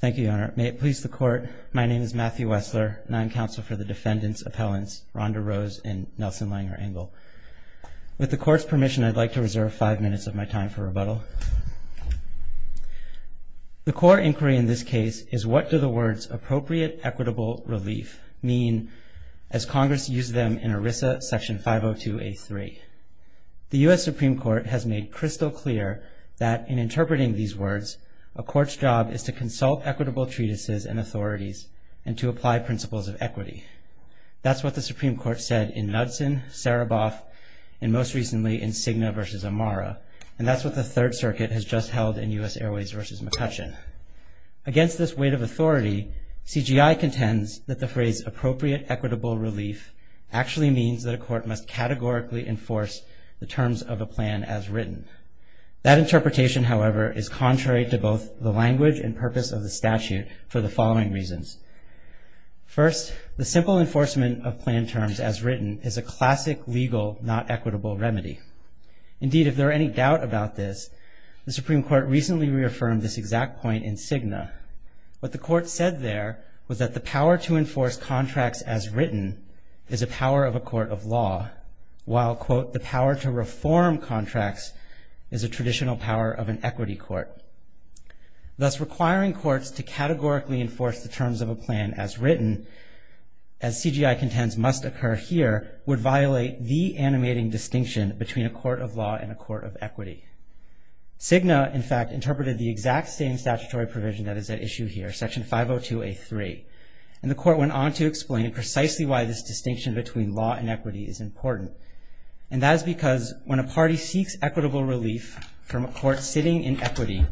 Thank you, Your Honor. May it please the Court, my name is Matthew Wessler, and I am counsel for the defendants' appellants, Rhonda Rose and Nelson Langer Engel. With the Court's permission, I'd like to reserve five minutes of my time for rebuttal. The core inquiry in this case is what do the words appropriate equitable relief mean as Congress used them in ERISA section 502A3. The U.S. Supreme Court has made crystal clear that in interpreting these words, a court's job is to consult equitable treatises and authorities and to apply principles of equity. That's what the Supreme Court said in Knudsen, Sereboff, and most recently in Cigna v. Amara, and that's what the Third Circuit has just held in U.S. Airways v. McCutcheon. Against this weight of authority, CGI contends that the phrase appropriate equitable relief actually means that a court must categorically enforce the terms of a plan as written. That interpretation, however, is contrary to both the language and purpose of the statute for the following reasons. First, the simple enforcement of plan terms as written is a classic legal not equitable remedy. Indeed, if there are any doubt about this, the Supreme Court recently reaffirmed this exact point in Cigna. What the Court said there was that the power to enforce contracts as written is a power of a court of law, while, quote, the power to reform contracts is a traditional power of an equity court. Thus, requiring courts to categorically enforce the terms of a plan as written, as CGI contends must occur here, would violate the animating distinction between a court of law and a court of equity. Cigna, in fact, interpreted the exact same statutory provision that is at issue here, Section 502A3, and the Court went on to explain precisely why this distinction between law and equity is important. And that is because when a party seeks equitable relief from a court sitting in equity,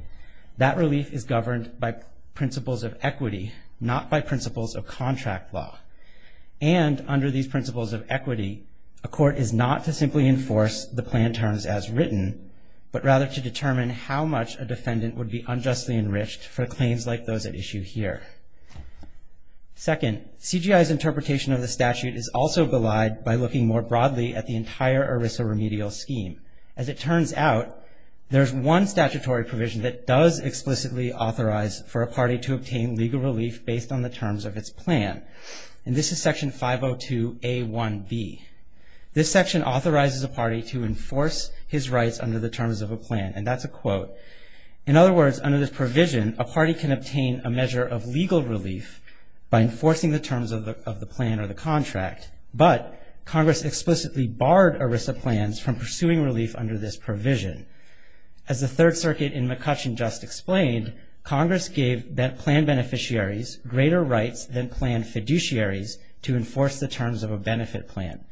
that relief is governed by principles of equity, not by principles of contract law. And under these principles of equity, a court is not to simply enforce the plan terms as written, but rather to determine how much a defendant would be unjustly enriched for claims like those at issue here. Second, CGI's interpretation of the statute is also belied by looking more broadly at the entire ERISA remedial scheme. As it turns out, there's one statutory provision that does explicitly authorize for a party to obtain legal relief based on the terms of its plan, and this is Section 502A1b. This section authorizes a party to enforce his rights under the terms of a plan, and that's a quote. In other words, under this provision, a party can obtain a measure of legal relief by enforcing the terms of the plan or the contract, but Congress explicitly barred ERISA plans from pursuing relief under this provision. As the Third Circuit in McCutcheon just explained, Congress gave plan beneficiaries greater rights than plan fiduciaries to enforce the terms of a benefit plan.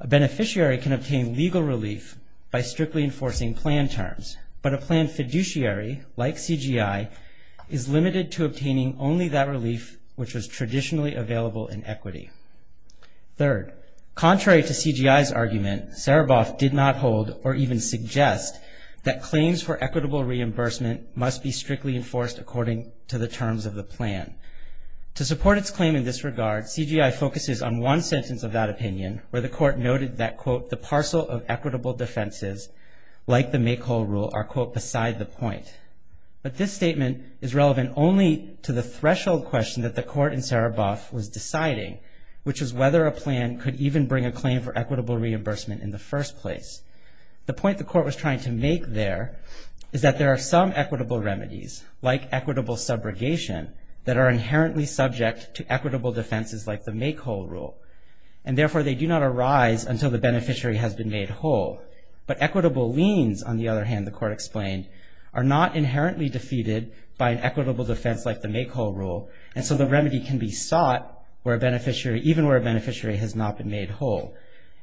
A beneficiary can obtain legal relief by strictly enforcing plan terms, but a plan fiduciary like CGI is limited to obtaining only that relief which was traditionally available in equity. Third, contrary to CGI's argument, Sereboff did not hold or even suggest that claims for equitable reimbursement must be strictly enforced according to the terms of the plan. To support its claim in this regard, CGI focuses on one sentence of that opinion where the court noted that, quote, the parcel of equitable defenses like the make-whole rule are, quote, beside the point. But this statement is relevant only to the threshold question that the court in Sereboff was deciding, which is whether a plan could even bring a claim for equitable reimbursement in the first place. The point the court was trying to make there is that there are some equitable remedies, like equitable subrogation, that are inherently subject to equitable defenses like the make-whole rule, and therefore they do not arise until the beneficiary has been made whole. But equitable liens, on the other hand, the court explained, are not inherently defeated by an equitable defense like the make-whole rule, and so the remedy can be sought even where a beneficiary has not been made whole.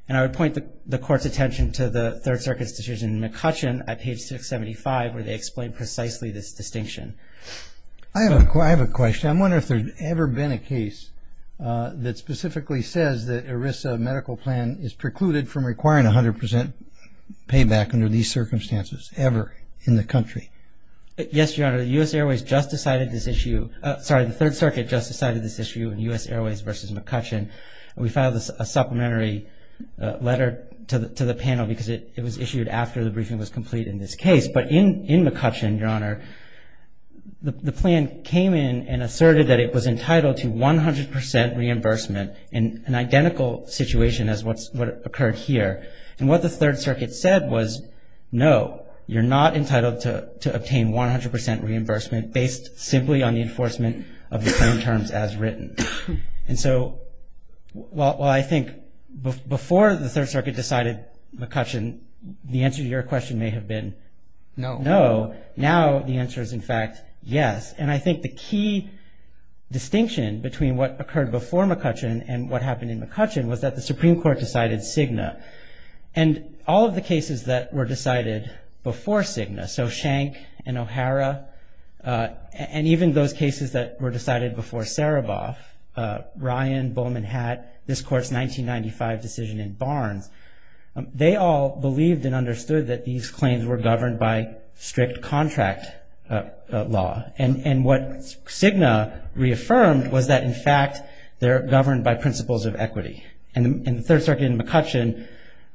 And I would point the court's attention to the Third Circuit's decision in McCutcheon at page 675 where they explain precisely this distinction. I have a question. I'm wondering if there's ever been a case that specifically says that ERISA medical plan is precluded from requiring 100 percent payback under these circumstances ever in the country. Yes, Your Honor. The U.S. Airways just decided this issue. Sorry, the Third Circuit just decided this issue in U.S. Airways v. McCutcheon. We filed a supplementary letter to the panel because it was issued after the briefing was complete in this case. But in McCutcheon, Your Honor, the plan came in and asserted that it was entitled to 100 percent reimbursement in an identical situation as what occurred here. And what the Third Circuit said was, no, you're not entitled to obtain 100 percent reimbursement based simply on the enforcement of the terms as written. And so while I think before the Third Circuit decided McCutcheon, the answer to your question may have been no. Now the answer is, in fact, yes. And I think the key distinction between what occurred before McCutcheon and what happened in McCutcheon was that the Supreme Court decided Cigna. And all of the cases that were decided before Cigna, so Schenck and O'Hara, and even those cases that were decided before Sereboff, Ryan, Bowman Hatt, this Court's 1995 decision in Barnes, they all believed and understood that these claims were governed by strict contract law. And what Cigna reaffirmed was that, in fact, they're governed by principles of equity. And the Third Circuit in McCutcheon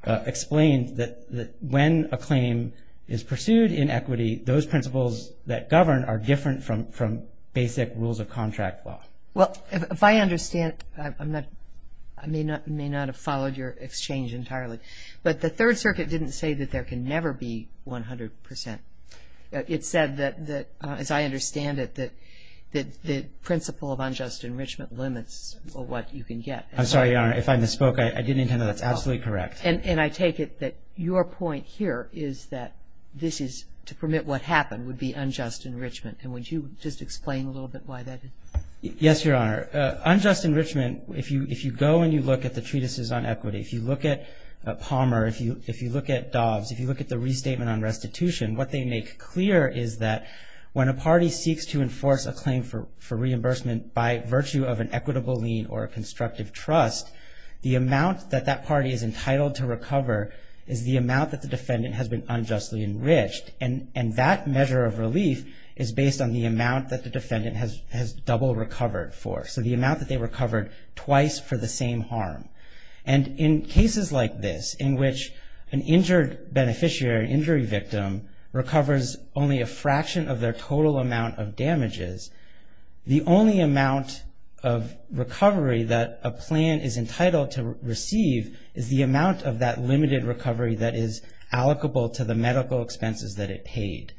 explained that when a claim is pursued in equity, those principles that govern are different from basic rules of contract law. Well, if I understand, I may not have followed your exchange entirely, but the Third Circuit didn't say that there can never be 100%. It said that, as I understand it, that the principle of unjust enrichment limits what you can get. I'm sorry, Your Honor. If I misspoke, I didn't intend that. That's absolutely correct. And I take it that your point here is that this is to permit what happened would be unjust enrichment. And would you just explain a little bit why that is? Yes, Your Honor. Unjust enrichment, if you go and you look at the treatises on equity, if you look at Palmer, if you look at Dobbs, if you look at the restatement on restitution, what they make clear is that when a party seeks to enforce a claim for reimbursement by virtue of an equitable lien or a constructive trust, the amount that that party is entitled to recover is the amount that the defendant has been unjustly enriched. And that measure of relief is based on the amount that the defendant has double recovered for, so the amount that they recovered twice for the same harm. And in cases like this in which an injured beneficiary, an injury victim, recovers only a fraction of their total amount of damages, the only amount of recovery that a plan is entitled to receive is the amount of that limited recovery that is allocable to the medical expenses that it paid.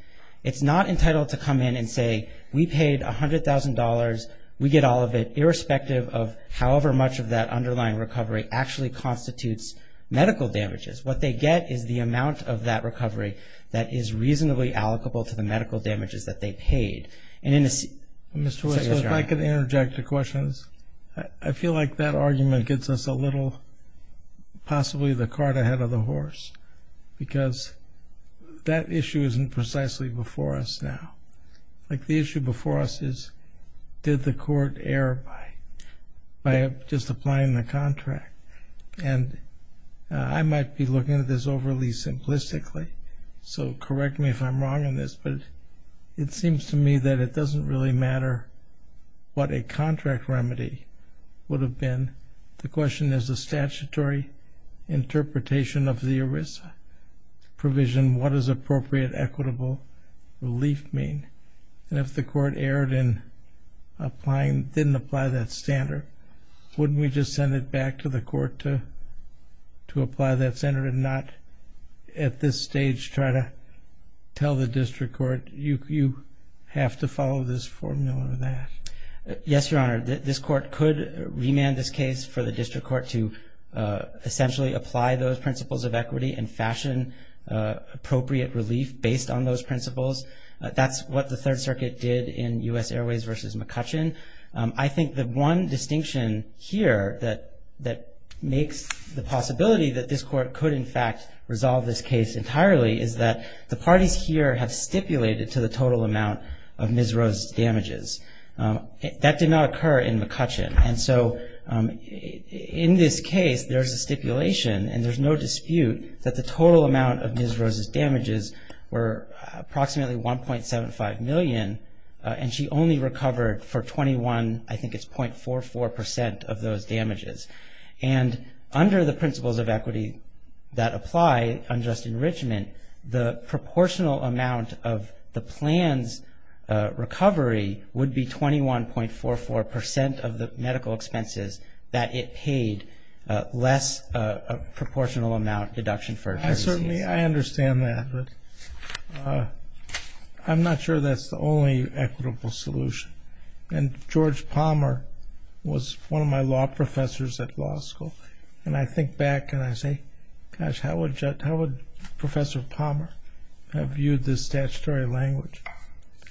It's not entitled to come in and say, we paid $100,000, we get all of it, irrespective of however much of that underlying recovery actually constitutes medical damages. What they get is the amount of that recovery that is reasonably allocable to the medical damages that they paid. And in a... Mr. West, if I could interject a question. I feel like that argument gets us a little, possibly the cart ahead of the horse, because that issue isn't precisely before us now. Like the issue before us is, did the court err by just applying the contract? And I might be looking at this overly simplistically, so correct me if I'm wrong in this, but it seems to me that it doesn't really matter what a contract remedy would have been. The question is a statutory interpretation of the ERISA provision, what does appropriate equitable relief mean? And if the court erred in applying, didn't apply that standard, wouldn't we just send it back to the court to apply that standard and not at this stage try to tell the district court, you have to follow this formula or that? Yes, Your Honor. This court could remand this case for the district court to essentially apply those principles of equity and fashion appropriate relief based on those principles. That's what the Third Circuit did in U.S. Airways v. McCutcheon. I think the one distinction here that makes the possibility that this court could in fact resolve this case entirely is that the parties here have stipulated to the total amount of Ms. Rose's damages. That did not occur in McCutcheon. And so in this case, there's a stipulation, and there's no dispute that the total amount of Ms. Rose's damages were approximately 1.75 million, and she only recovered for 21, I think it's .44 percent of those damages. And under the principles of equity that apply, unjust enrichment, the proportional amount of the plan's recovery would be 21.44 percent of the medical expenses that it paid less a proportional amount deduction for. I certainly, I understand that. But I'm not sure that's the only equitable solution. And George Palmer was one of my law professors at law school, and I think back and I say, gosh, how would Professor Palmer have viewed this statutory language?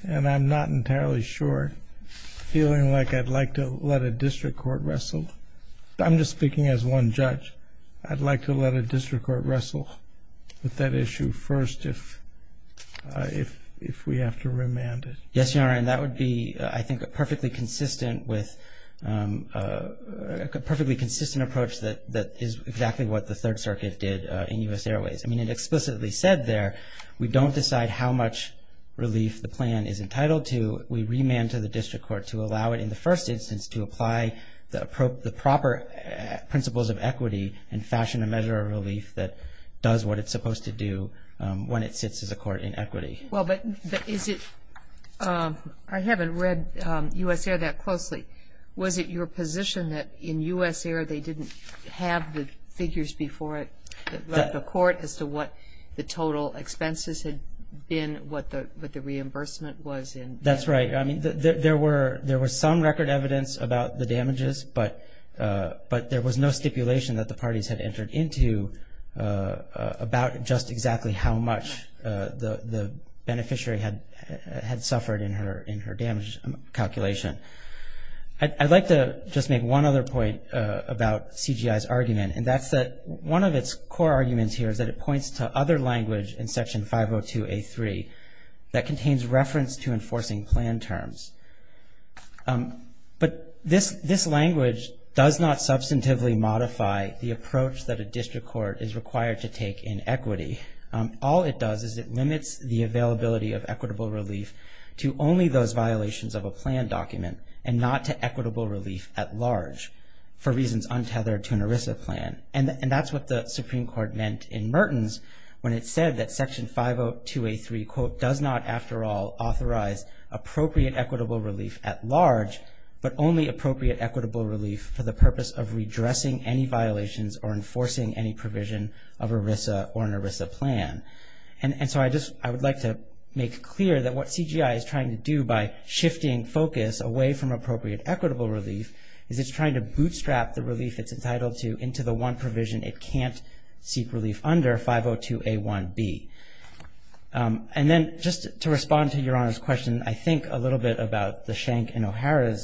And I'm not entirely sure, feeling like I'd like to let a district court wrestle. I'm just speaking as one judge. I'd like to let a district court wrestle with that issue first if we have to remand it. Yes, Your Honor, and that would be, I think, a perfectly consistent approach that is exactly what the Third Circuit did in U.S. Airways. I mean, it explicitly said there we don't decide how much relief the plan is entitled to. We remand to the district court to allow it in the first instance to apply the proper principles of equity and fashion a measure of relief that does what it's supposed to do when it sits as a court in equity. Well, but is it, I haven't read U.S. Air that closely. Was it your position that in U.S. Air they didn't have the figures before it, that the court as to what the total expenses had been, what the reimbursement was? That's right. I mean, there were some record evidence about the damages, but there was no stipulation that the parties had entered into about just exactly how much the beneficiary had suffered in her damage calculation. I'd like to just make one other point about CGI's argument, and that's that one of its core arguments here is that it points to other language in Section 502A3 that contains reference to enforcing plan terms. But this language does not substantively modify the approach that a district court is required to take in equity. All it does is it limits the availability of equitable relief to only those violations of a plan document and not to equitable relief at large for reasons untethered to an ERISA plan. And that's what the Supreme Court meant in Mertens when it said that Section 502A3, quote, does not, after all, authorize appropriate equitable relief at large, but only appropriate equitable relief for the purpose of redressing any violations or enforcing any provision of ERISA or an ERISA plan. And so I would like to make clear that what CGI is trying to do by shifting focus away from appropriate equitable relief is it's trying to bootstrap the relief it's entitled to into the one provision it can't seek relief under, 502A1B. And then just to respond to Your Honor's question, I think a little bit about the Schenck and O'Hara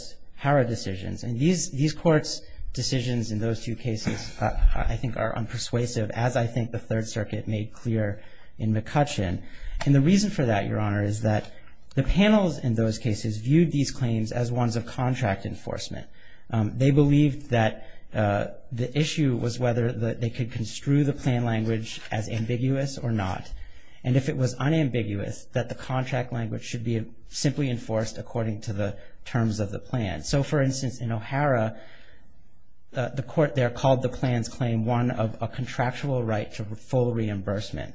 decisions. And these courts' decisions in those two cases, I think, are unpersuasive, as I think the Third Circuit made clear in McCutcheon. And the reason for that, Your Honor, is that the panels in those cases viewed these claims as ones of contract enforcement. They believed that the issue was whether they could construe the plan language as ambiguous or not. And if it was unambiguous, that the contract language should be simply enforced according to the terms of the plan. So, for instance, in O'Hara, the court there called the plan's claim one of a contractual right to full reimbursement.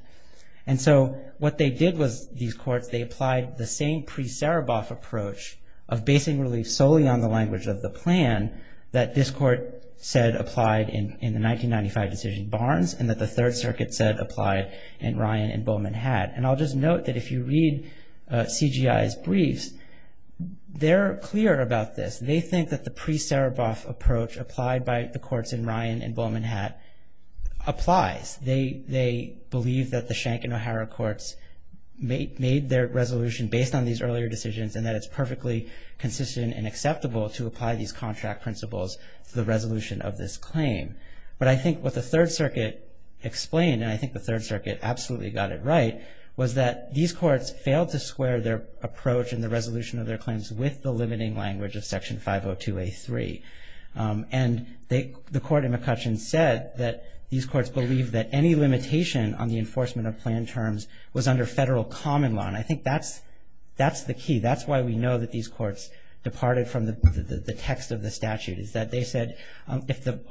And so what they did was, these courts, they applied the same pre-Sereboff approach of basing relief solely on the language of the plan that this court said applied in the 1995 decision Barnes and that the Third Circuit said applied in Ryan and Bowman had. And I'll just note that if you read CGI's briefs, they're clear about this. They think that the pre-Sereboff approach applied by the courts in Ryan and Bowman had applies. They believe that the Schenck and O'Hara courts made their resolution based on these earlier decisions and that it's perfectly consistent and acceptable to apply these contract principles to the resolution of this claim. But I think what the Third Circuit explained, and I think the Third Circuit absolutely got it right, was that these courts failed to square their approach in the resolution of their claims with the limiting language of Section 502A3. And the court in McCutcheon said that these courts believed that any limitation on the enforcement of plan terms was under federal common law. And I think that's the key. That's why we know that these courts departed from the text of the statute, is that they said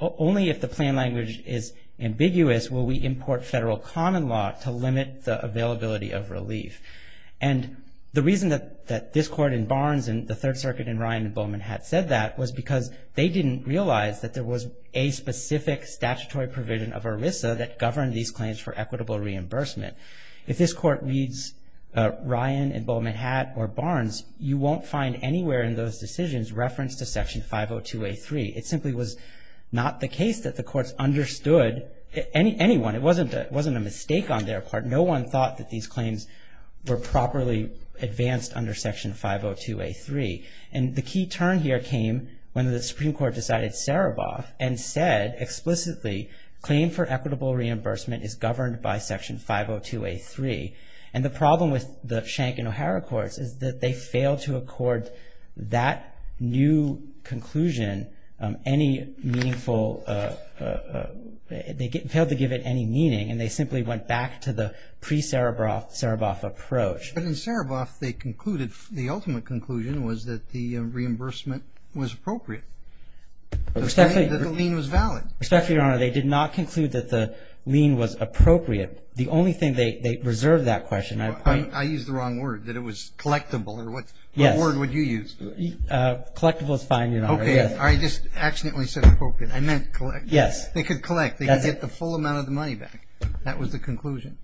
only if the plan language is ambiguous will we import federal common law to limit the availability of relief. And the reason that this court in Barnes and the Third Circuit in Ryan and Bowman had said that was because they didn't realize that there was a specific statutory provision of ERISA that governed these claims for equitable reimbursement. If this court reads Ryan and Bowman had or Barnes, you won't find anywhere in those decisions reference to Section 502A3. It simply was not the case that the courts understood anyone. It wasn't a mistake on their part. No one thought that these claims were properly advanced under Section 502A3. And the key turn here came when the Supreme Court decided Saraboff and said explicitly, claim for equitable reimbursement is governed by Section 502A3. And the problem with the Schenck and O'Hara courts is that they failed to accord that new conclusion any meaningful, they failed to give it any meaning, and they simply went back to the pre-Saraboff approach. But in Saraboff, they concluded, the ultimate conclusion was that the reimbursement was appropriate. The lien was valid. Respectfully, Your Honor, they did not conclude that the lien was appropriate. The only thing they reserved that question. I use the wrong word, that it was collectible. What word would you use? Collectible is fine, Your Honor. Okay. I just accidentally said appropriate. I meant collectible. Yes. They could collect. They could get the full amount of the money back. That was the conclusion.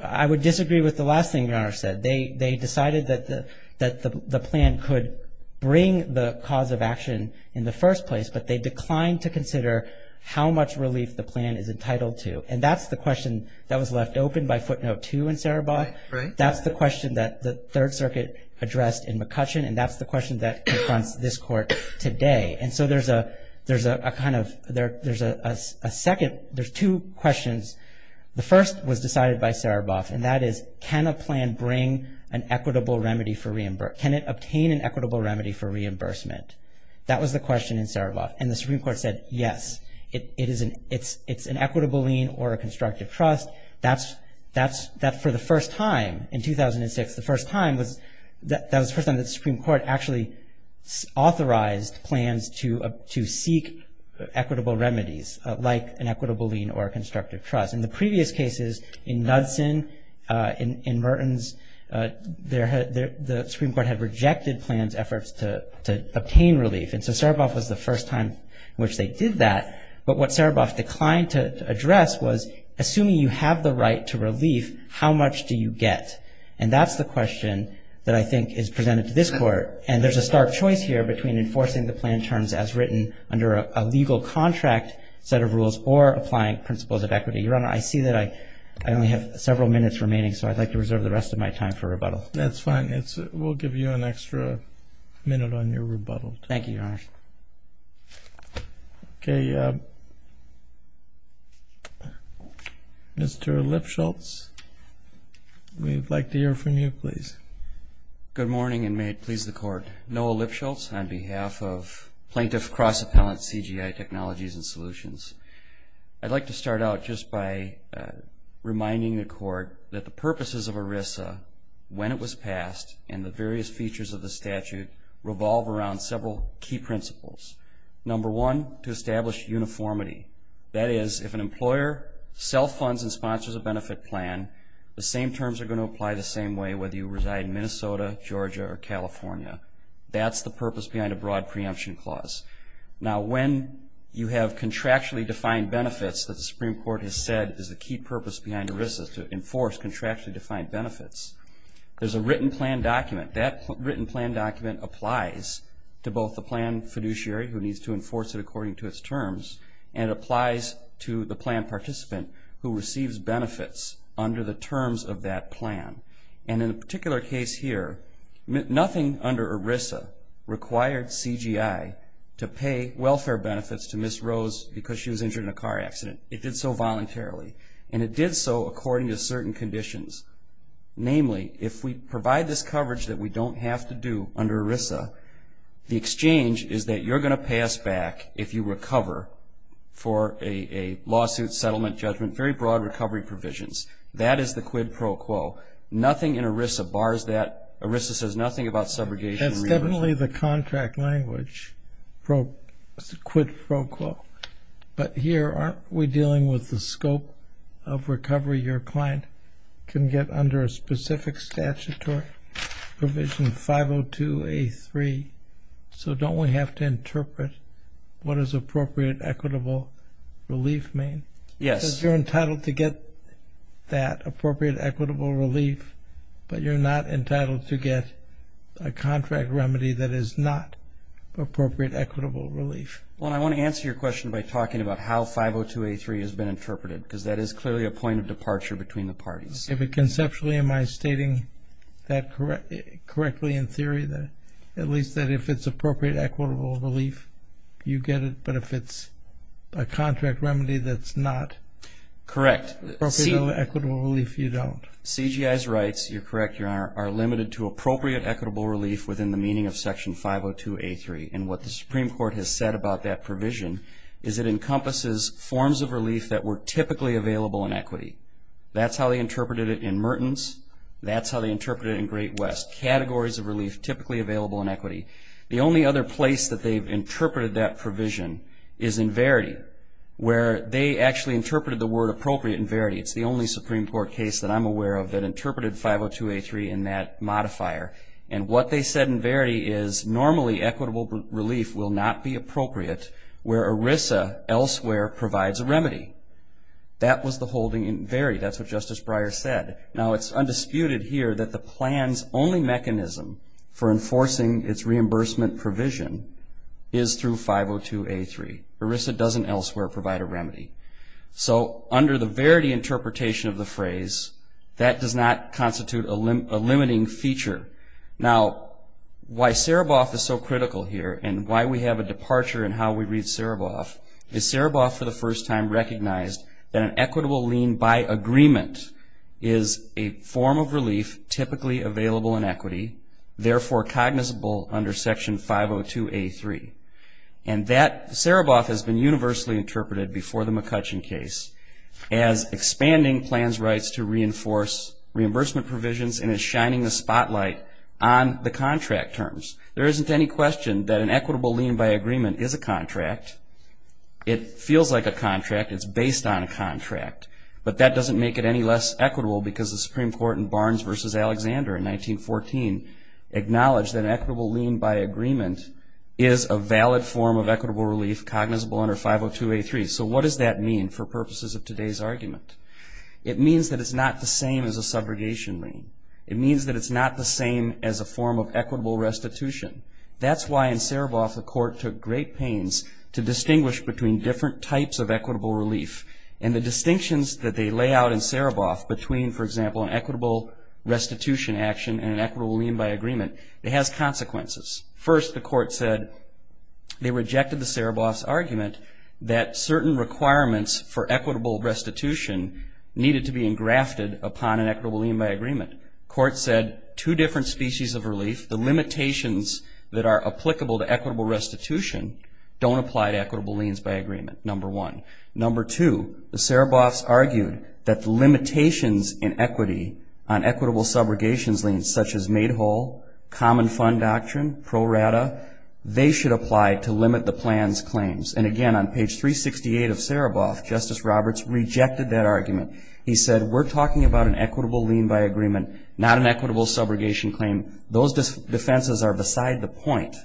I would disagree with the last thing Your Honor said. They decided that the plan could bring the cause of action in the first place, but they declined to consider how much relief the plan is entitled to. And that's the question that was left open by footnote two in Saraboff. Right. That's the question that the Third Circuit addressed in McCutcheon, and that's the question that confronts this Court today. And so there's a kind of, there's a second, there's two questions. The first was decided by Saraboff, and that is, can a plan bring an equitable remedy for reimbursement? Can it obtain an equitable remedy for reimbursement? That was the question in Saraboff. And the Supreme Court said, yes, it's an equitable lien or a constructive trust. That's for the first time in 2006, the first time was, that was the first time the Supreme Court actually authorized plans to seek equitable remedies, like an equitable lien or a constructive trust. In the previous cases, in Knudsen, in Mertens, the Supreme Court had rejected plans efforts to obtain relief. And so Saraboff was the first time in which they did that. But what Saraboff declined to address was, assuming you have the right to relief, how much do you get? And that's the question that I think is presented to this Court. And there's a stark choice here between enforcing the plan terms as written under a legal contract set of rules or applying principles of equity. Your Honor, I see that I only have several minutes remaining, so I'd like to reserve the rest of my time for rebuttal. That's fine. We'll give you an extra minute on your rebuttal. Thank you, Your Honor. Okay. Mr. Lipschultz, we'd like to hear from you, please. Good morning, and may it please the Court. Noah Lipschultz on behalf of Plaintiff Cross-Appellant CGI Technologies and Solutions. I'd like to start out just by reminding the Court that the purposes of ERISA, when it was passed, and the various features of the statute revolve around several key principles. Number one, to establish uniformity. That is, if an employer sells funds and sponsors a benefit plan, the same terms are going to apply the same way whether you reside in Minnesota, Georgia, or California. That's the purpose behind a broad preemption clause. Now, when you have contractually defined benefits that the Supreme Court has said is the key purpose behind ERISA, to enforce contractually defined benefits, there's a written plan document. That written plan document applies to both the plan fiduciary, who needs to enforce it according to its terms, and applies to the plan participant who receives benefits under the terms of that plan. And in a particular case here, nothing under ERISA required CGI to pay welfare benefits to Ms. Rose because she was injured in a car accident. It did so voluntarily, and it did so according to certain conditions. Namely, if we provide this coverage that we don't have to do under ERISA, the exchange is that you're going to pay us back if you recover for a lawsuit, settlement, judgment, very broad recovery provisions. That is the quid pro quo. Nothing in ERISA bars that. ERISA says nothing about subrogation. That's definitely the contract language, quid pro quo. But here, aren't we dealing with the scope of recovery your client can get under a specific statutory provision 502A3? So don't we have to interpret what is appropriate equitable relief mean? Yes. Because you're entitled to get that appropriate equitable relief, but you're not entitled to get a contract remedy that is not appropriate equitable relief. Well, I want to answer your question by talking about how 502A3 has been interpreted because that is clearly a point of departure between the parties. Conceptually, am I stating that correctly in theory, at least that if it's appropriate equitable relief, you get it, but if it's a contract remedy that's not appropriate equitable relief, you don't? CGI's rights, you're correct, Your Honor, are limited to appropriate equitable relief within the meaning of Section 502A3. And what the Supreme Court has said about that provision is it encompasses forms of relief that were typically available in equity. That's how they interpreted it in Mertens. That's how they interpreted it in Great West, categories of relief typically available in equity. The only other place that they've interpreted that provision is in Verity, where they actually interpreted the word appropriate in Verity. It's the only Supreme Court case that I'm aware of that interpreted 502A3 in that modifier. And what they said in Verity is normally equitable relief will not be appropriate where ERISA elsewhere provides a remedy. That was the holding in Verity. That's what Justice Breyer said. Now it's undisputed here that the plan's only mechanism for enforcing its reimbursement provision is through 502A3. ERISA doesn't elsewhere provide a remedy. So under the Verity interpretation of the phrase, that does not constitute a limiting feature. Now why Sereboff is so critical here and why we have a departure in how we read Sereboff is Sereboff for the first time recognized that an equitable lien by agreement is a form of relief typically available in equity, therefore cognizable under Section 502A3. And that Sereboff has been universally interpreted before the McCutcheon case as expanding plans' rights to reinforce reimbursement provisions and is shining a spotlight on the contract terms. There isn't any question that an equitable lien by agreement is a contract. It feels like a contract. It's based on a contract. But that doesn't make it any less equitable because the Supreme Court in Barnes v. Alexander in 1914 acknowledged that an equitable lien by agreement is a valid form of equitable relief cognizable under 502A3. So what does that mean for purposes of today's argument? It means that it's not the same as a subrogation lien. It means that it's not the same as a form of equitable restitution. That's why in Sereboff the Court took great pains to distinguish between different types of equitable relief. And the distinctions that they lay out in Sereboff between, for example, an equitable restitution action and an equitable lien by agreement, it has consequences. First, the Court said they rejected the Sereboff's argument that certain requirements for equitable restitution needed to be engrafted upon an equitable lien by agreement. The Court said two different species of relief, the limitations that are applicable to equitable restitution, don't apply to equitable liens by agreement, number one. Number two, the Sereboffs argued that the limitations in equity on equitable subrogations liens, such as made whole, common fund doctrine, pro rata, they should apply to limit the plan's claims. And again, on page 368 of Sereboff, Justice Roberts rejected that argument. He said we're talking about an equitable lien by agreement, not an equitable subrogation claim. Those defenses are beside the point.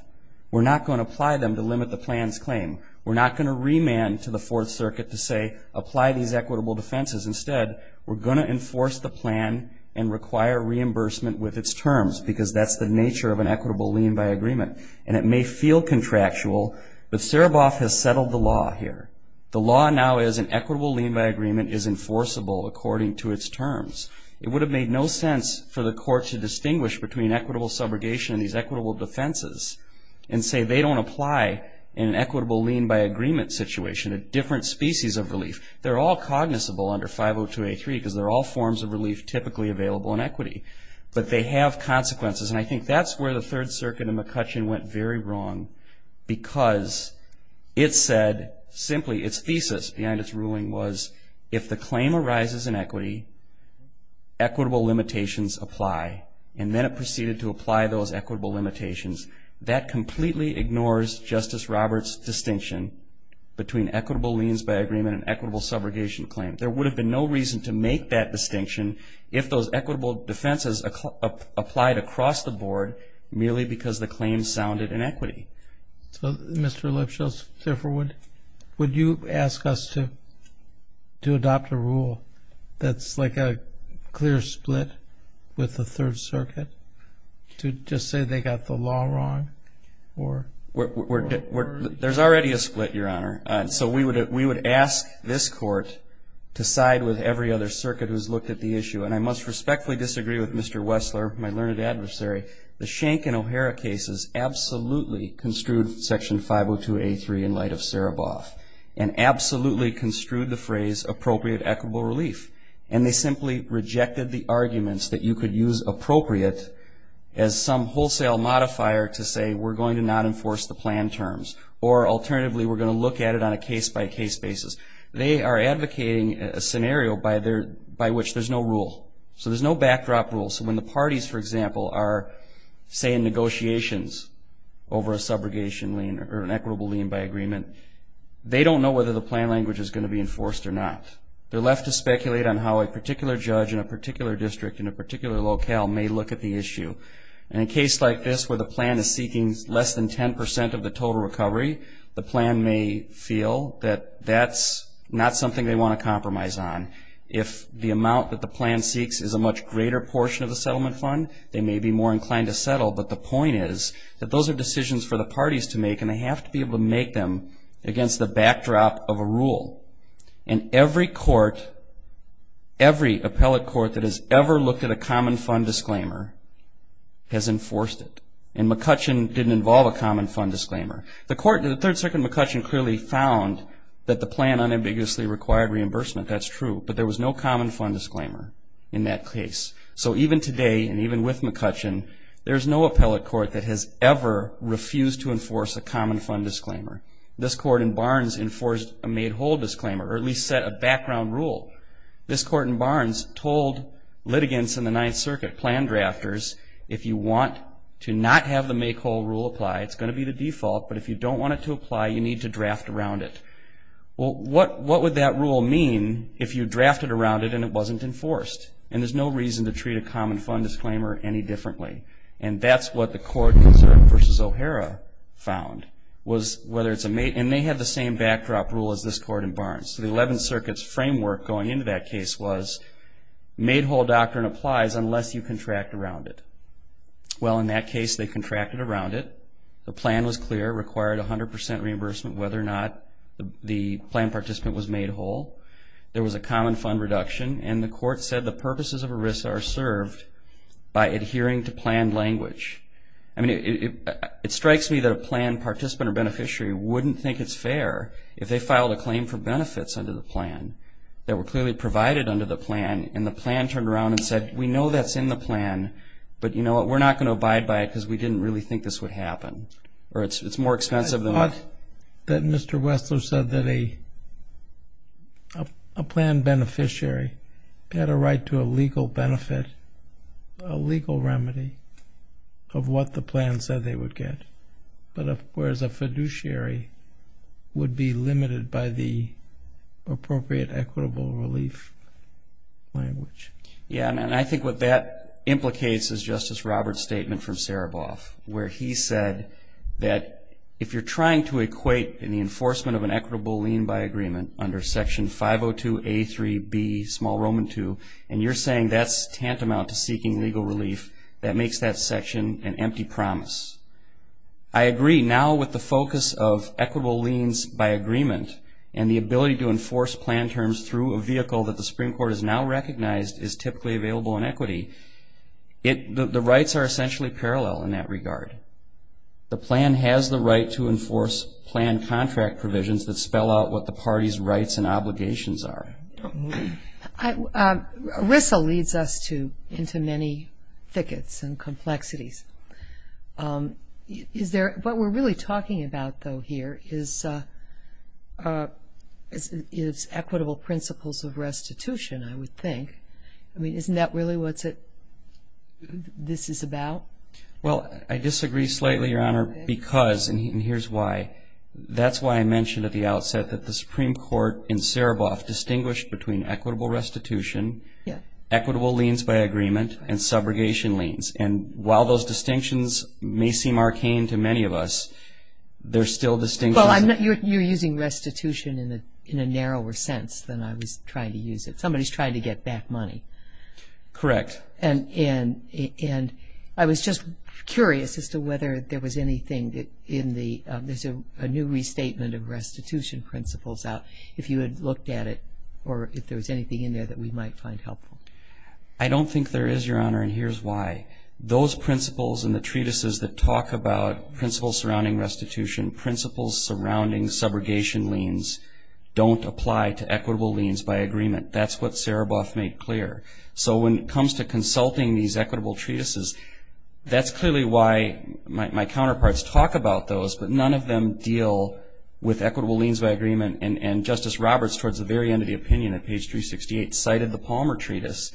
We're not going to apply them to limit the plan's claim. We're not going to remand to the Fourth Circuit to say apply these equitable defenses. Instead, we're going to enforce the plan and require reimbursement with its terms because that's the nature of an equitable lien by agreement. And it may feel contractual, but Sereboff has settled the law here. The law now is an equitable lien by agreement is enforceable according to its terms. It would have made no sense for the Court to distinguish between equitable subrogation and these equitable defenses and say they don't apply in an equitable lien by agreement situation, a different species of relief. They're all cognizable under 502A3 because they're all forms of relief typically available in equity, but they have consequences. And I think that's where the Third Circuit in McCutcheon went very wrong because it said simply its thesis behind its ruling was if the claim arises in equity, equitable limitations apply. And then it proceeded to apply those equitable limitations. That completely ignores Justice Roberts' distinction between equitable liens by agreement and an equitable subrogation claim. There would have been no reason to make that distinction if those equitable defenses applied across the board merely because the claim sounded in equity. So, Mr. Lipschitz, therefore, would you ask us to adopt a rule that's like a clear split with the Third Circuit to just say they got the law wrong? There's already a split, Your Honor. So we would ask this Court to side with every other circuit who's looked at the issue. And I must respectfully disagree with Mr. Wessler, my learned adversary. The Schenck and O'Hara cases absolutely construed Section 502A3 in light of Sereboff and absolutely construed the phrase appropriate equitable relief. And they simply rejected the arguments that you could use appropriate as some wholesale modifier to say we're going to not enforce the plan terms. Or alternatively, we're going to look at it on a case-by-case basis. They are advocating a scenario by which there's no rule. So there's no backdrop rule. So when the parties, for example, are saying negotiations over a subrogation lien or an equitable lien by agreement, they don't know whether the plan language is going to be enforced or not. They're left to speculate on how a particular judge in a particular district in a particular locale may look at the issue. And in a case like this where the plan is seeking less than 10% of the total recovery, the plan may feel that that's not something they want to compromise on. If the amount that the plan seeks is a much greater portion of the settlement fund, they may be more inclined to settle. But the point is that those are decisions for the parties to make, and they have to be able to make them against the backdrop of a rule. And every court, every appellate court that has ever looked at a common fund disclaimer has enforced it. And McCutcheon didn't involve a common fund disclaimer. The Third Circuit in McCutcheon clearly found that the plan unambiguously required reimbursement. That's true. But there was no common fund disclaimer in that case. So even today and even with McCutcheon, there's no appellate court that has ever refused to enforce a common fund disclaimer. This court in Barnes enforced a made-whole disclaimer, or at least set a background rule. This court in Barnes told litigants in the Ninth Circuit, plan drafters, if you want to not have the make-whole rule apply, it's going to be the default, but if you don't want it to apply, you need to draft around it. Well, what would that rule mean if you drafted around it and it wasn't enforced? And there's no reason to treat a common fund disclaimer any differently. And that's what the court in Zerk v. O'Hara found, and they have the same backdrop rule as this court in Barnes. So the Eleventh Circuit's framework going into that case was made-whole doctrine applies unless you contract around it. Well, in that case, they contracted around it. The plan was clear, required 100% reimbursement whether or not the plan participant was made whole. There was a common fund reduction, and the court said the purposes of ERISA are served by adhering to plan language. I mean, it strikes me that a plan participant or beneficiary wouldn't think it's fair if they filed a claim for benefits under the plan that were clearly provided under the plan, and the plan turned around and said, we know that's in the plan, but you know what, we're not going to abide by it because we didn't really think this would happen. I thought that Mr. Wessler said that a plan beneficiary had a right to a legal benefit, a legal remedy of what the plan said they would get, whereas a fiduciary would be limited by the appropriate equitable relief language. Yeah, and I think what that implicates is Justice Roberts' statement from Saraboff where he said that if you're trying to equate in the enforcement of an equitable lien by agreement under Section 502A.3.B.2, and you're saying that's tantamount to seeking legal relief, that makes that section an empty promise. I agree. Now with the focus of equitable liens by agreement and the ability to enforce plan terms through a vehicle that the Supreme Court has now recognized is typically available in equity, the rights are essentially parallel in that regard. The plan has the right to enforce plan contract provisions that spell out what the party's rights and obligations are. RISA leads us into many thickets and complexities. What we're really talking about, though, here is equitable principles of restitution, I would think. I mean, isn't that really what this is about? Well, I disagree slightly, Your Honor, because, and here's why, that's why I mentioned at the outset that the Supreme Court in Saraboff distinguished between equitable restitution, equitable liens by agreement, and subrogation liens. And while those distinctions may seem arcane to many of us, they're still distinctions. Well, you're using restitution in a narrower sense than I was trying to use it. Somebody's trying to get back money. Correct. And I was just curious as to whether there was anything in the, there's a new restatement of restitution principles out, if you had looked at it, or if there was anything in there that we might find helpful. I don't think there is, Your Honor, and here's why. Those principles and the treatises that talk about principles surrounding restitution, principles surrounding subrogation liens don't apply to equitable liens by agreement. That's what Saraboff made clear. So when it comes to consulting these equitable treatises, that's clearly why my counterparts talk about those, but none of them deal with equitable liens by agreement. And Justice Roberts, towards the very end of the opinion at page 368, cited the Palmer Treatise,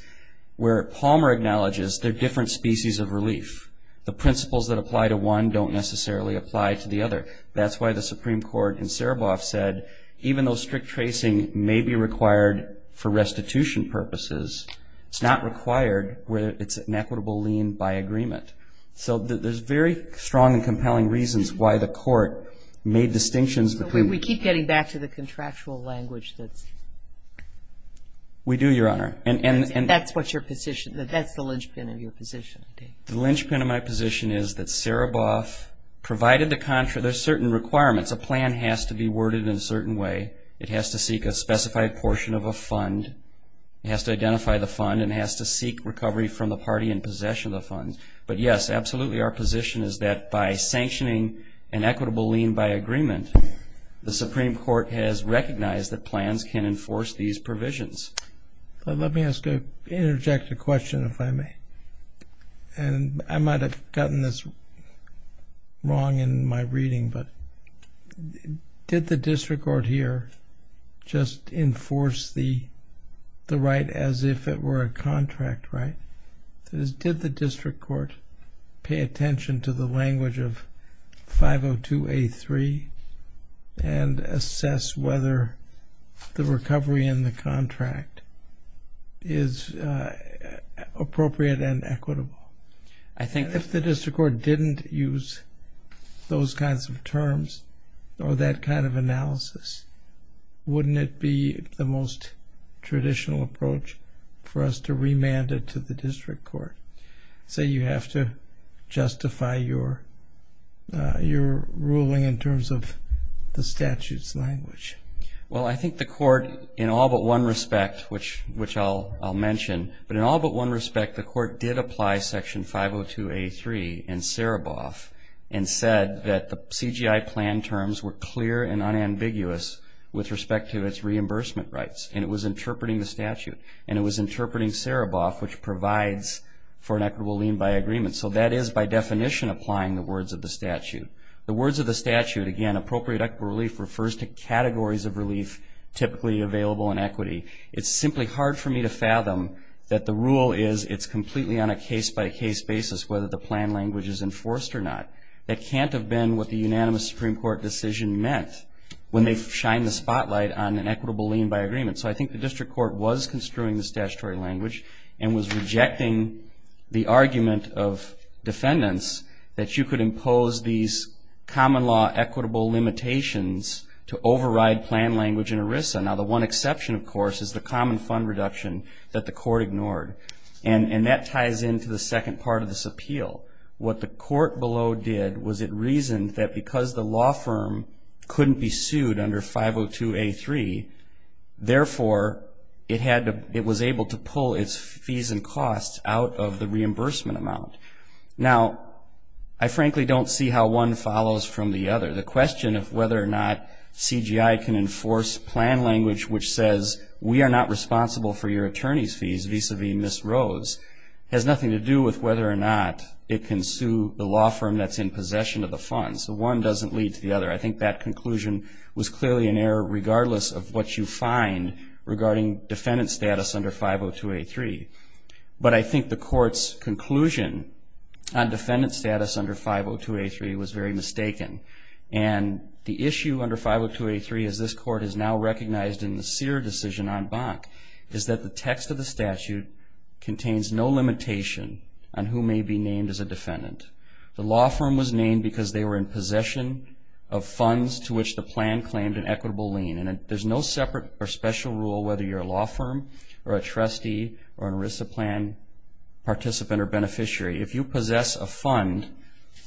where Palmer acknowledges they're different species of relief. The principles that apply to one don't necessarily apply to the other. That's why the Supreme Court in Saraboff said, even though strict tracing may be required for restitution purposes, it's not required where it's an equitable lien by agreement. So there's very strong and compelling reasons why the court made distinctions between. So we keep getting back to the contractual language that's. We do, Your Honor. And that's what your position, that's the linchpin of your position. The linchpin of my position is that Saraboff provided the, there's certain requirements. A plan has to be worded in a certain way. It has to seek a specified portion of a fund. It has to identify the fund. It has to seek recovery from the party in possession of the funds. But, yes, absolutely our position is that by sanctioning an equitable lien by agreement, the Supreme Court has recognized that plans can enforce these provisions. Let me interject a question, if I may. And I might have gotten this wrong in my reading, but did the district court here just enforce the right as if it were a contract right? That is, did the district court pay attention to the language of 502A3 and assess whether the recovery in the contract is appropriate and equitable? If the district court didn't use those kinds of terms or that kind of analysis, wouldn't it be the most traditional approach for us to remand it to the district court, say you have to justify your ruling in terms of the statute's language? Well, I think the court, in all but one respect, which I'll mention, but in all but one respect, the court did apply Section 502A3 in Saraboff and said that the CGI plan terms were clear and unambiguous with respect to its reimbursement rights. And it was interpreting the statute. And it was interpreting Saraboff, which provides for an equitable lien by agreement. So that is, by definition, applying the words of the statute. The words of the statute, again, appropriate equitable relief, refers to categories of relief typically available in equity. It's simply hard for me to fathom that the rule is it's completely on a case-by-case basis whether the plan language is enforced or not. That can't have been what the unanimous Supreme Court decision meant when they shined the spotlight on an equitable lien by agreement. So I think the district court was construing this statutory language and was rejecting the argument of defendants that you could impose these common law equitable limitations to override plan language in ERISA. Now, the one exception, of course, is the common fund reduction that the court ignored. And that ties into the second part of this appeal. What the court below did was it reasoned that because the law firm couldn't be sued under 502A3, therefore it was able to pull its fees and costs out of the reimbursement amount. Now, I frankly don't see how one follows from the other. The question of whether or not CGI can enforce plan language which says, we are not responsible for your attorney's fees vis-à-vis Ms. Rose, has nothing to do with whether or not it can sue the law firm that's in possession of the funds. So one doesn't lead to the other. I think that conclusion was clearly an error regardless of what you find regarding defendant status under 502A3. But I think the court's conclusion on defendant status under 502A3 was very mistaken. And the issue under 502A3, as this court has now recognized in the Sear decision on Bonk, is that the text of the statute contains no limitation on who may be named as a defendant. The law firm was named because they were in possession of funds to which the plan claimed an equitable lien. And there's no separate or special rule whether you're a law firm or a trustee or an ERISA plan participant or beneficiary. If you possess a fund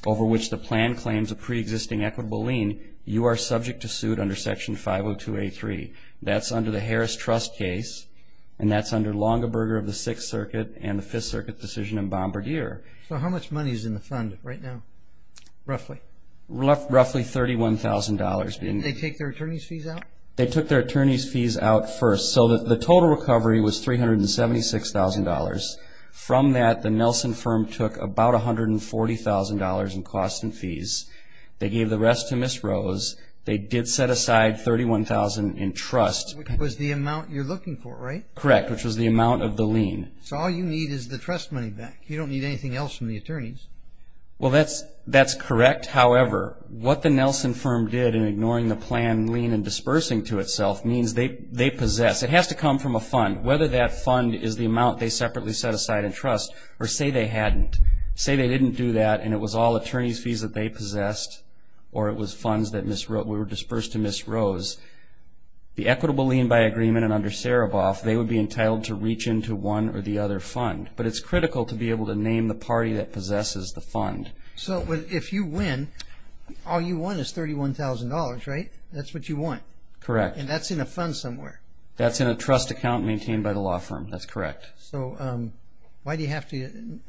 over which the plan claims a preexisting equitable lien, you are subject to suit under Section 502A3. That's under the Harris Trust case, and that's under Longaberger of the Sixth Circuit and the Fifth Circuit decision in Bombardier. So how much money is in the fund right now, roughly? Roughly $31,000. Did they take their attorney's fees out? They took their attorney's fees out first. So the total recovery was $376,000. From that, the Nelson firm took about $140,000 in costs and fees. They gave the rest to Ms. Rose. They did set aside $31,000 in trust. Which was the amount you're looking for, right? Correct, which was the amount of the lien. So all you need is the trust money back. You don't need anything else from the attorneys. Well, that's correct. However, what the Nelson firm did in ignoring the plan lien and dispersing to itself means they possess. It has to come from a fund. Whether that fund is the amount they separately set aside in trust or say they hadn't, say they didn't do that and it was all attorney's fees that they possessed or it was funds that were dispersed to Ms. Rose, the equitable lien by agreement and under Saraboff, they would be entitled to reach into one or the other fund. But it's critical to be able to name the party that possesses the fund. So if you win, all you want is $31,000, right? That's what you want. Correct. And that's in a fund somewhere. That's in a trust account maintained by the law firm. That's correct. So why do you have to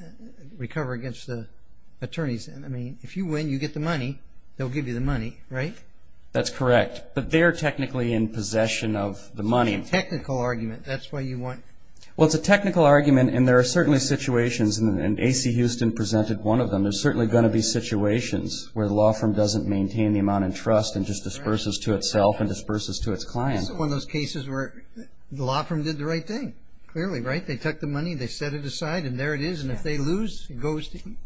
recover against the attorneys? I mean, if you win, you get the money. They'll give you the money, right? That's correct. But they're technically in possession of the money. Technical argument. That's what you want. Well, it's a technical argument, and there are certainly situations, and AC Houston presented one of them, there's certainly going to be situations where the law firm doesn't maintain the amount in trust and just disperses to itself and disperses to its client. This is one of those cases where the law firm did the right thing, clearly, right? They took the money, they set it aside, and there it is. And if they lose, it goes to you.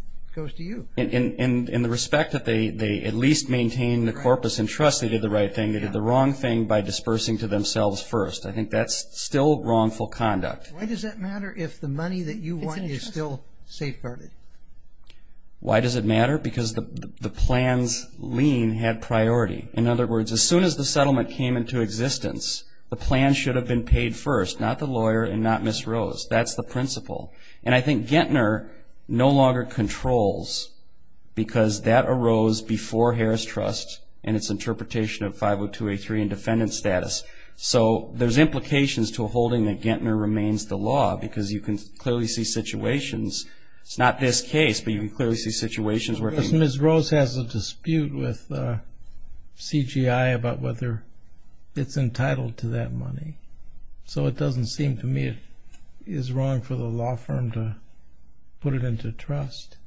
In the respect that they at least maintain the corpus in trust, they did the right thing. They did the wrong thing by dispersing to themselves first. I think that's still wrongful conduct. Why does that matter if the money that you won is still safeguarded? Why does it matter? Because the plan's lien had priority. In other words, as soon as the settlement came into existence, the plan should have been paid first, not the lawyer and not Ms. Rose. That's the principle. And I think Gettner no longer controls because that arose before Harris Trust and its interpretation of 50283 and defendant status. So there's implications to a holding that Gettner remains the law because you can clearly see situations. It's not this case, but you can clearly see situations where it's been. But Ms. Rose has a dispute with CGI about whether it's entitled to that money. So it doesn't seem to me it is wrong for the law firm to put it into trust.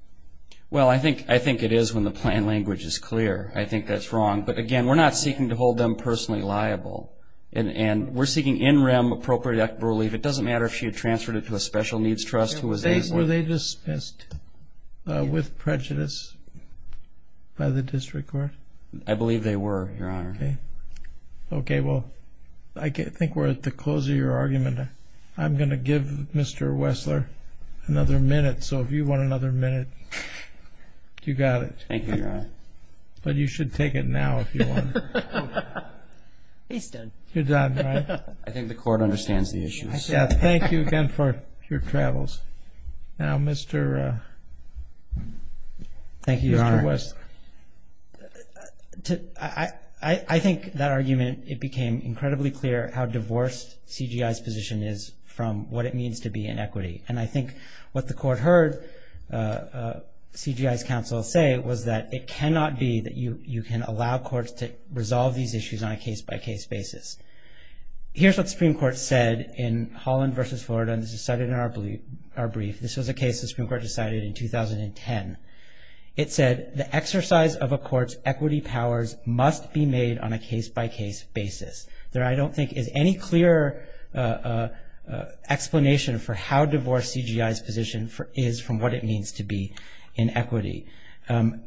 Well, I think it is when the plan language is clear. I think that's wrong. But, again, we're not seeking to hold them personally liable. And we're seeking in rem appropriate act of relief. It doesn't matter if she had transferred it to a special needs trust. Were they dismissed with prejudice by the district court? I believe they were, Your Honor. Okay. Well, I think we're at the close of your argument. I'm going to give Mr. Wessler another minute. So if you want another minute, you got it. Thank you, Your Honor. But you should take it now if you want. He's done. You're done, right? I think the court understands the issue. Thank you again for your travels. Now, Mr. Wessler. Thank you, Your Honor. I think that argument, it became incredibly clear how divorced CGI's position is from what it means to be in equity. And I think what the court heard CGI's counsel say was that it cannot be that you can allow courts to resolve these issues on a case-by-case basis. Here's what the Supreme Court said in Holland v. Florida. And this is cited in our brief. This was a case the Supreme Court decided in 2010. It said the exercise of a court's equity powers must be made on a case-by-case basis. There, I don't think, is any clear explanation for how divorced CGI's position is from what it means to be in equity.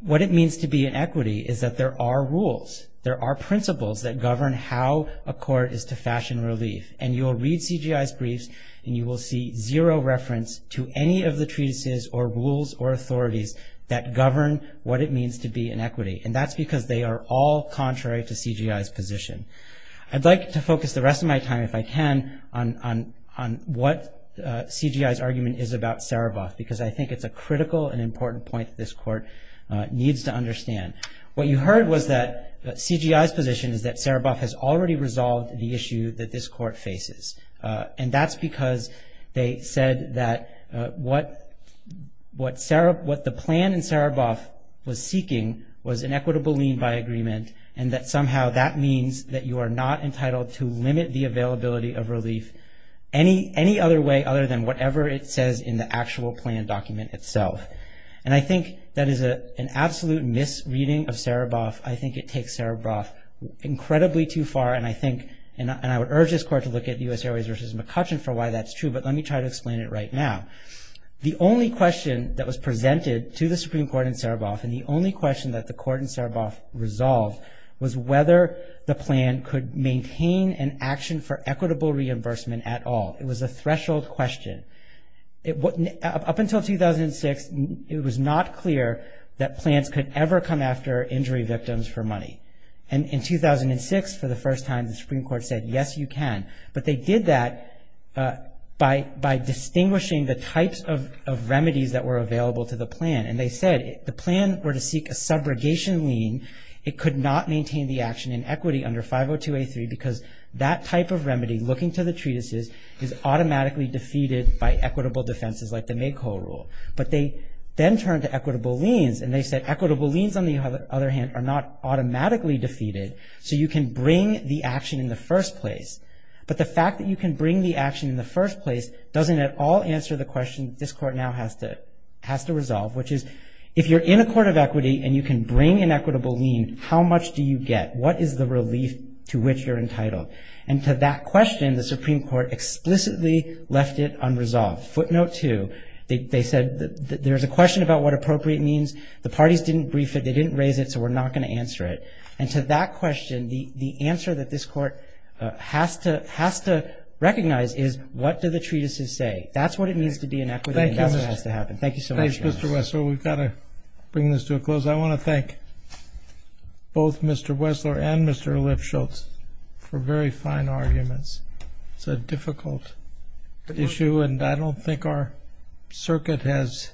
What it means to be in equity is that there are rules, there are principles that govern how a court is to fashion relief. And you'll read CGI's briefs and you will see zero reference to any of the treatises or rules or authorities that govern what it means to be in equity. And that's because they are all contrary to CGI's position. I'd like to focus the rest of my time, if I can, on what CGI's argument is about Saraboff, because I think it's a critical and important point that this court needs to understand. What you heard was that CGI's position is that Saraboff has already resolved the issue that this court faces. And that's because they said that what the plan in Saraboff was seeking was an equitable lien by agreement and that somehow that means that you are not entitled to limit the availability of relief any other way other than whatever it says in the actual plan document itself. And I think that is an absolute misreading of Saraboff. I think it takes Saraboff incredibly too far. And I would urge this court to look at U.S. Airways v. McCutcheon for why that's true, but let me try to explain it right now. The only question that was presented to the Supreme Court in Saraboff and the only question that the court in Saraboff resolved was whether the plan could maintain an action for equitable reimbursement at all. It was a threshold question. Up until 2006, it was not clear that plans could ever come after injury victims for money. And in 2006, for the first time, the Supreme Court said, yes, you can. But they did that by distinguishing the types of remedies that were available to the plan. And they said if the plan were to seek a subrogation lien, it could not maintain the action in equity under 502A3 because that type of remedy, looking to the treatises, is automatically defeated by equitable defenses like the Mayko Rule. But they then turned to equitable liens, and they said equitable liens, on the other hand, are not automatically defeated, so you can bring the action in the first place. But the fact that you can bring the action in the first place doesn't at all answer the question that this court now has to resolve, which is if you're in a court of equity and you can bring an equitable lien, how much do you get? What is the relief to which you're entitled? And to that question, the Supreme Court explicitly left it unresolved. Footnote two, they said there's a question about what appropriate means. The parties didn't brief it. They didn't raise it, so we're not going to answer it. And to that question, the answer that this court has to recognize is what do the treatises say? That's what it means to be in equity, and that's what has to happen. Thank you so much. Thank you, Mr. Wessler. We've got to bring this to a close. I want to thank both Mr. Wessler and Mr. Lifshultz for very fine arguments. It's a difficult issue, and I don't think our circuit has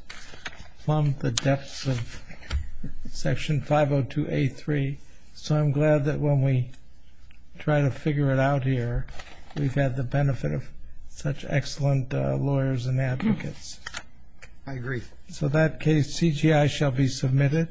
plumbed the depths of Section 502A3. So I'm glad that when we try to figure it out here, we've had the benefit of such excellent lawyers and advocates. I agree. So that case, CGI, shall be submitted.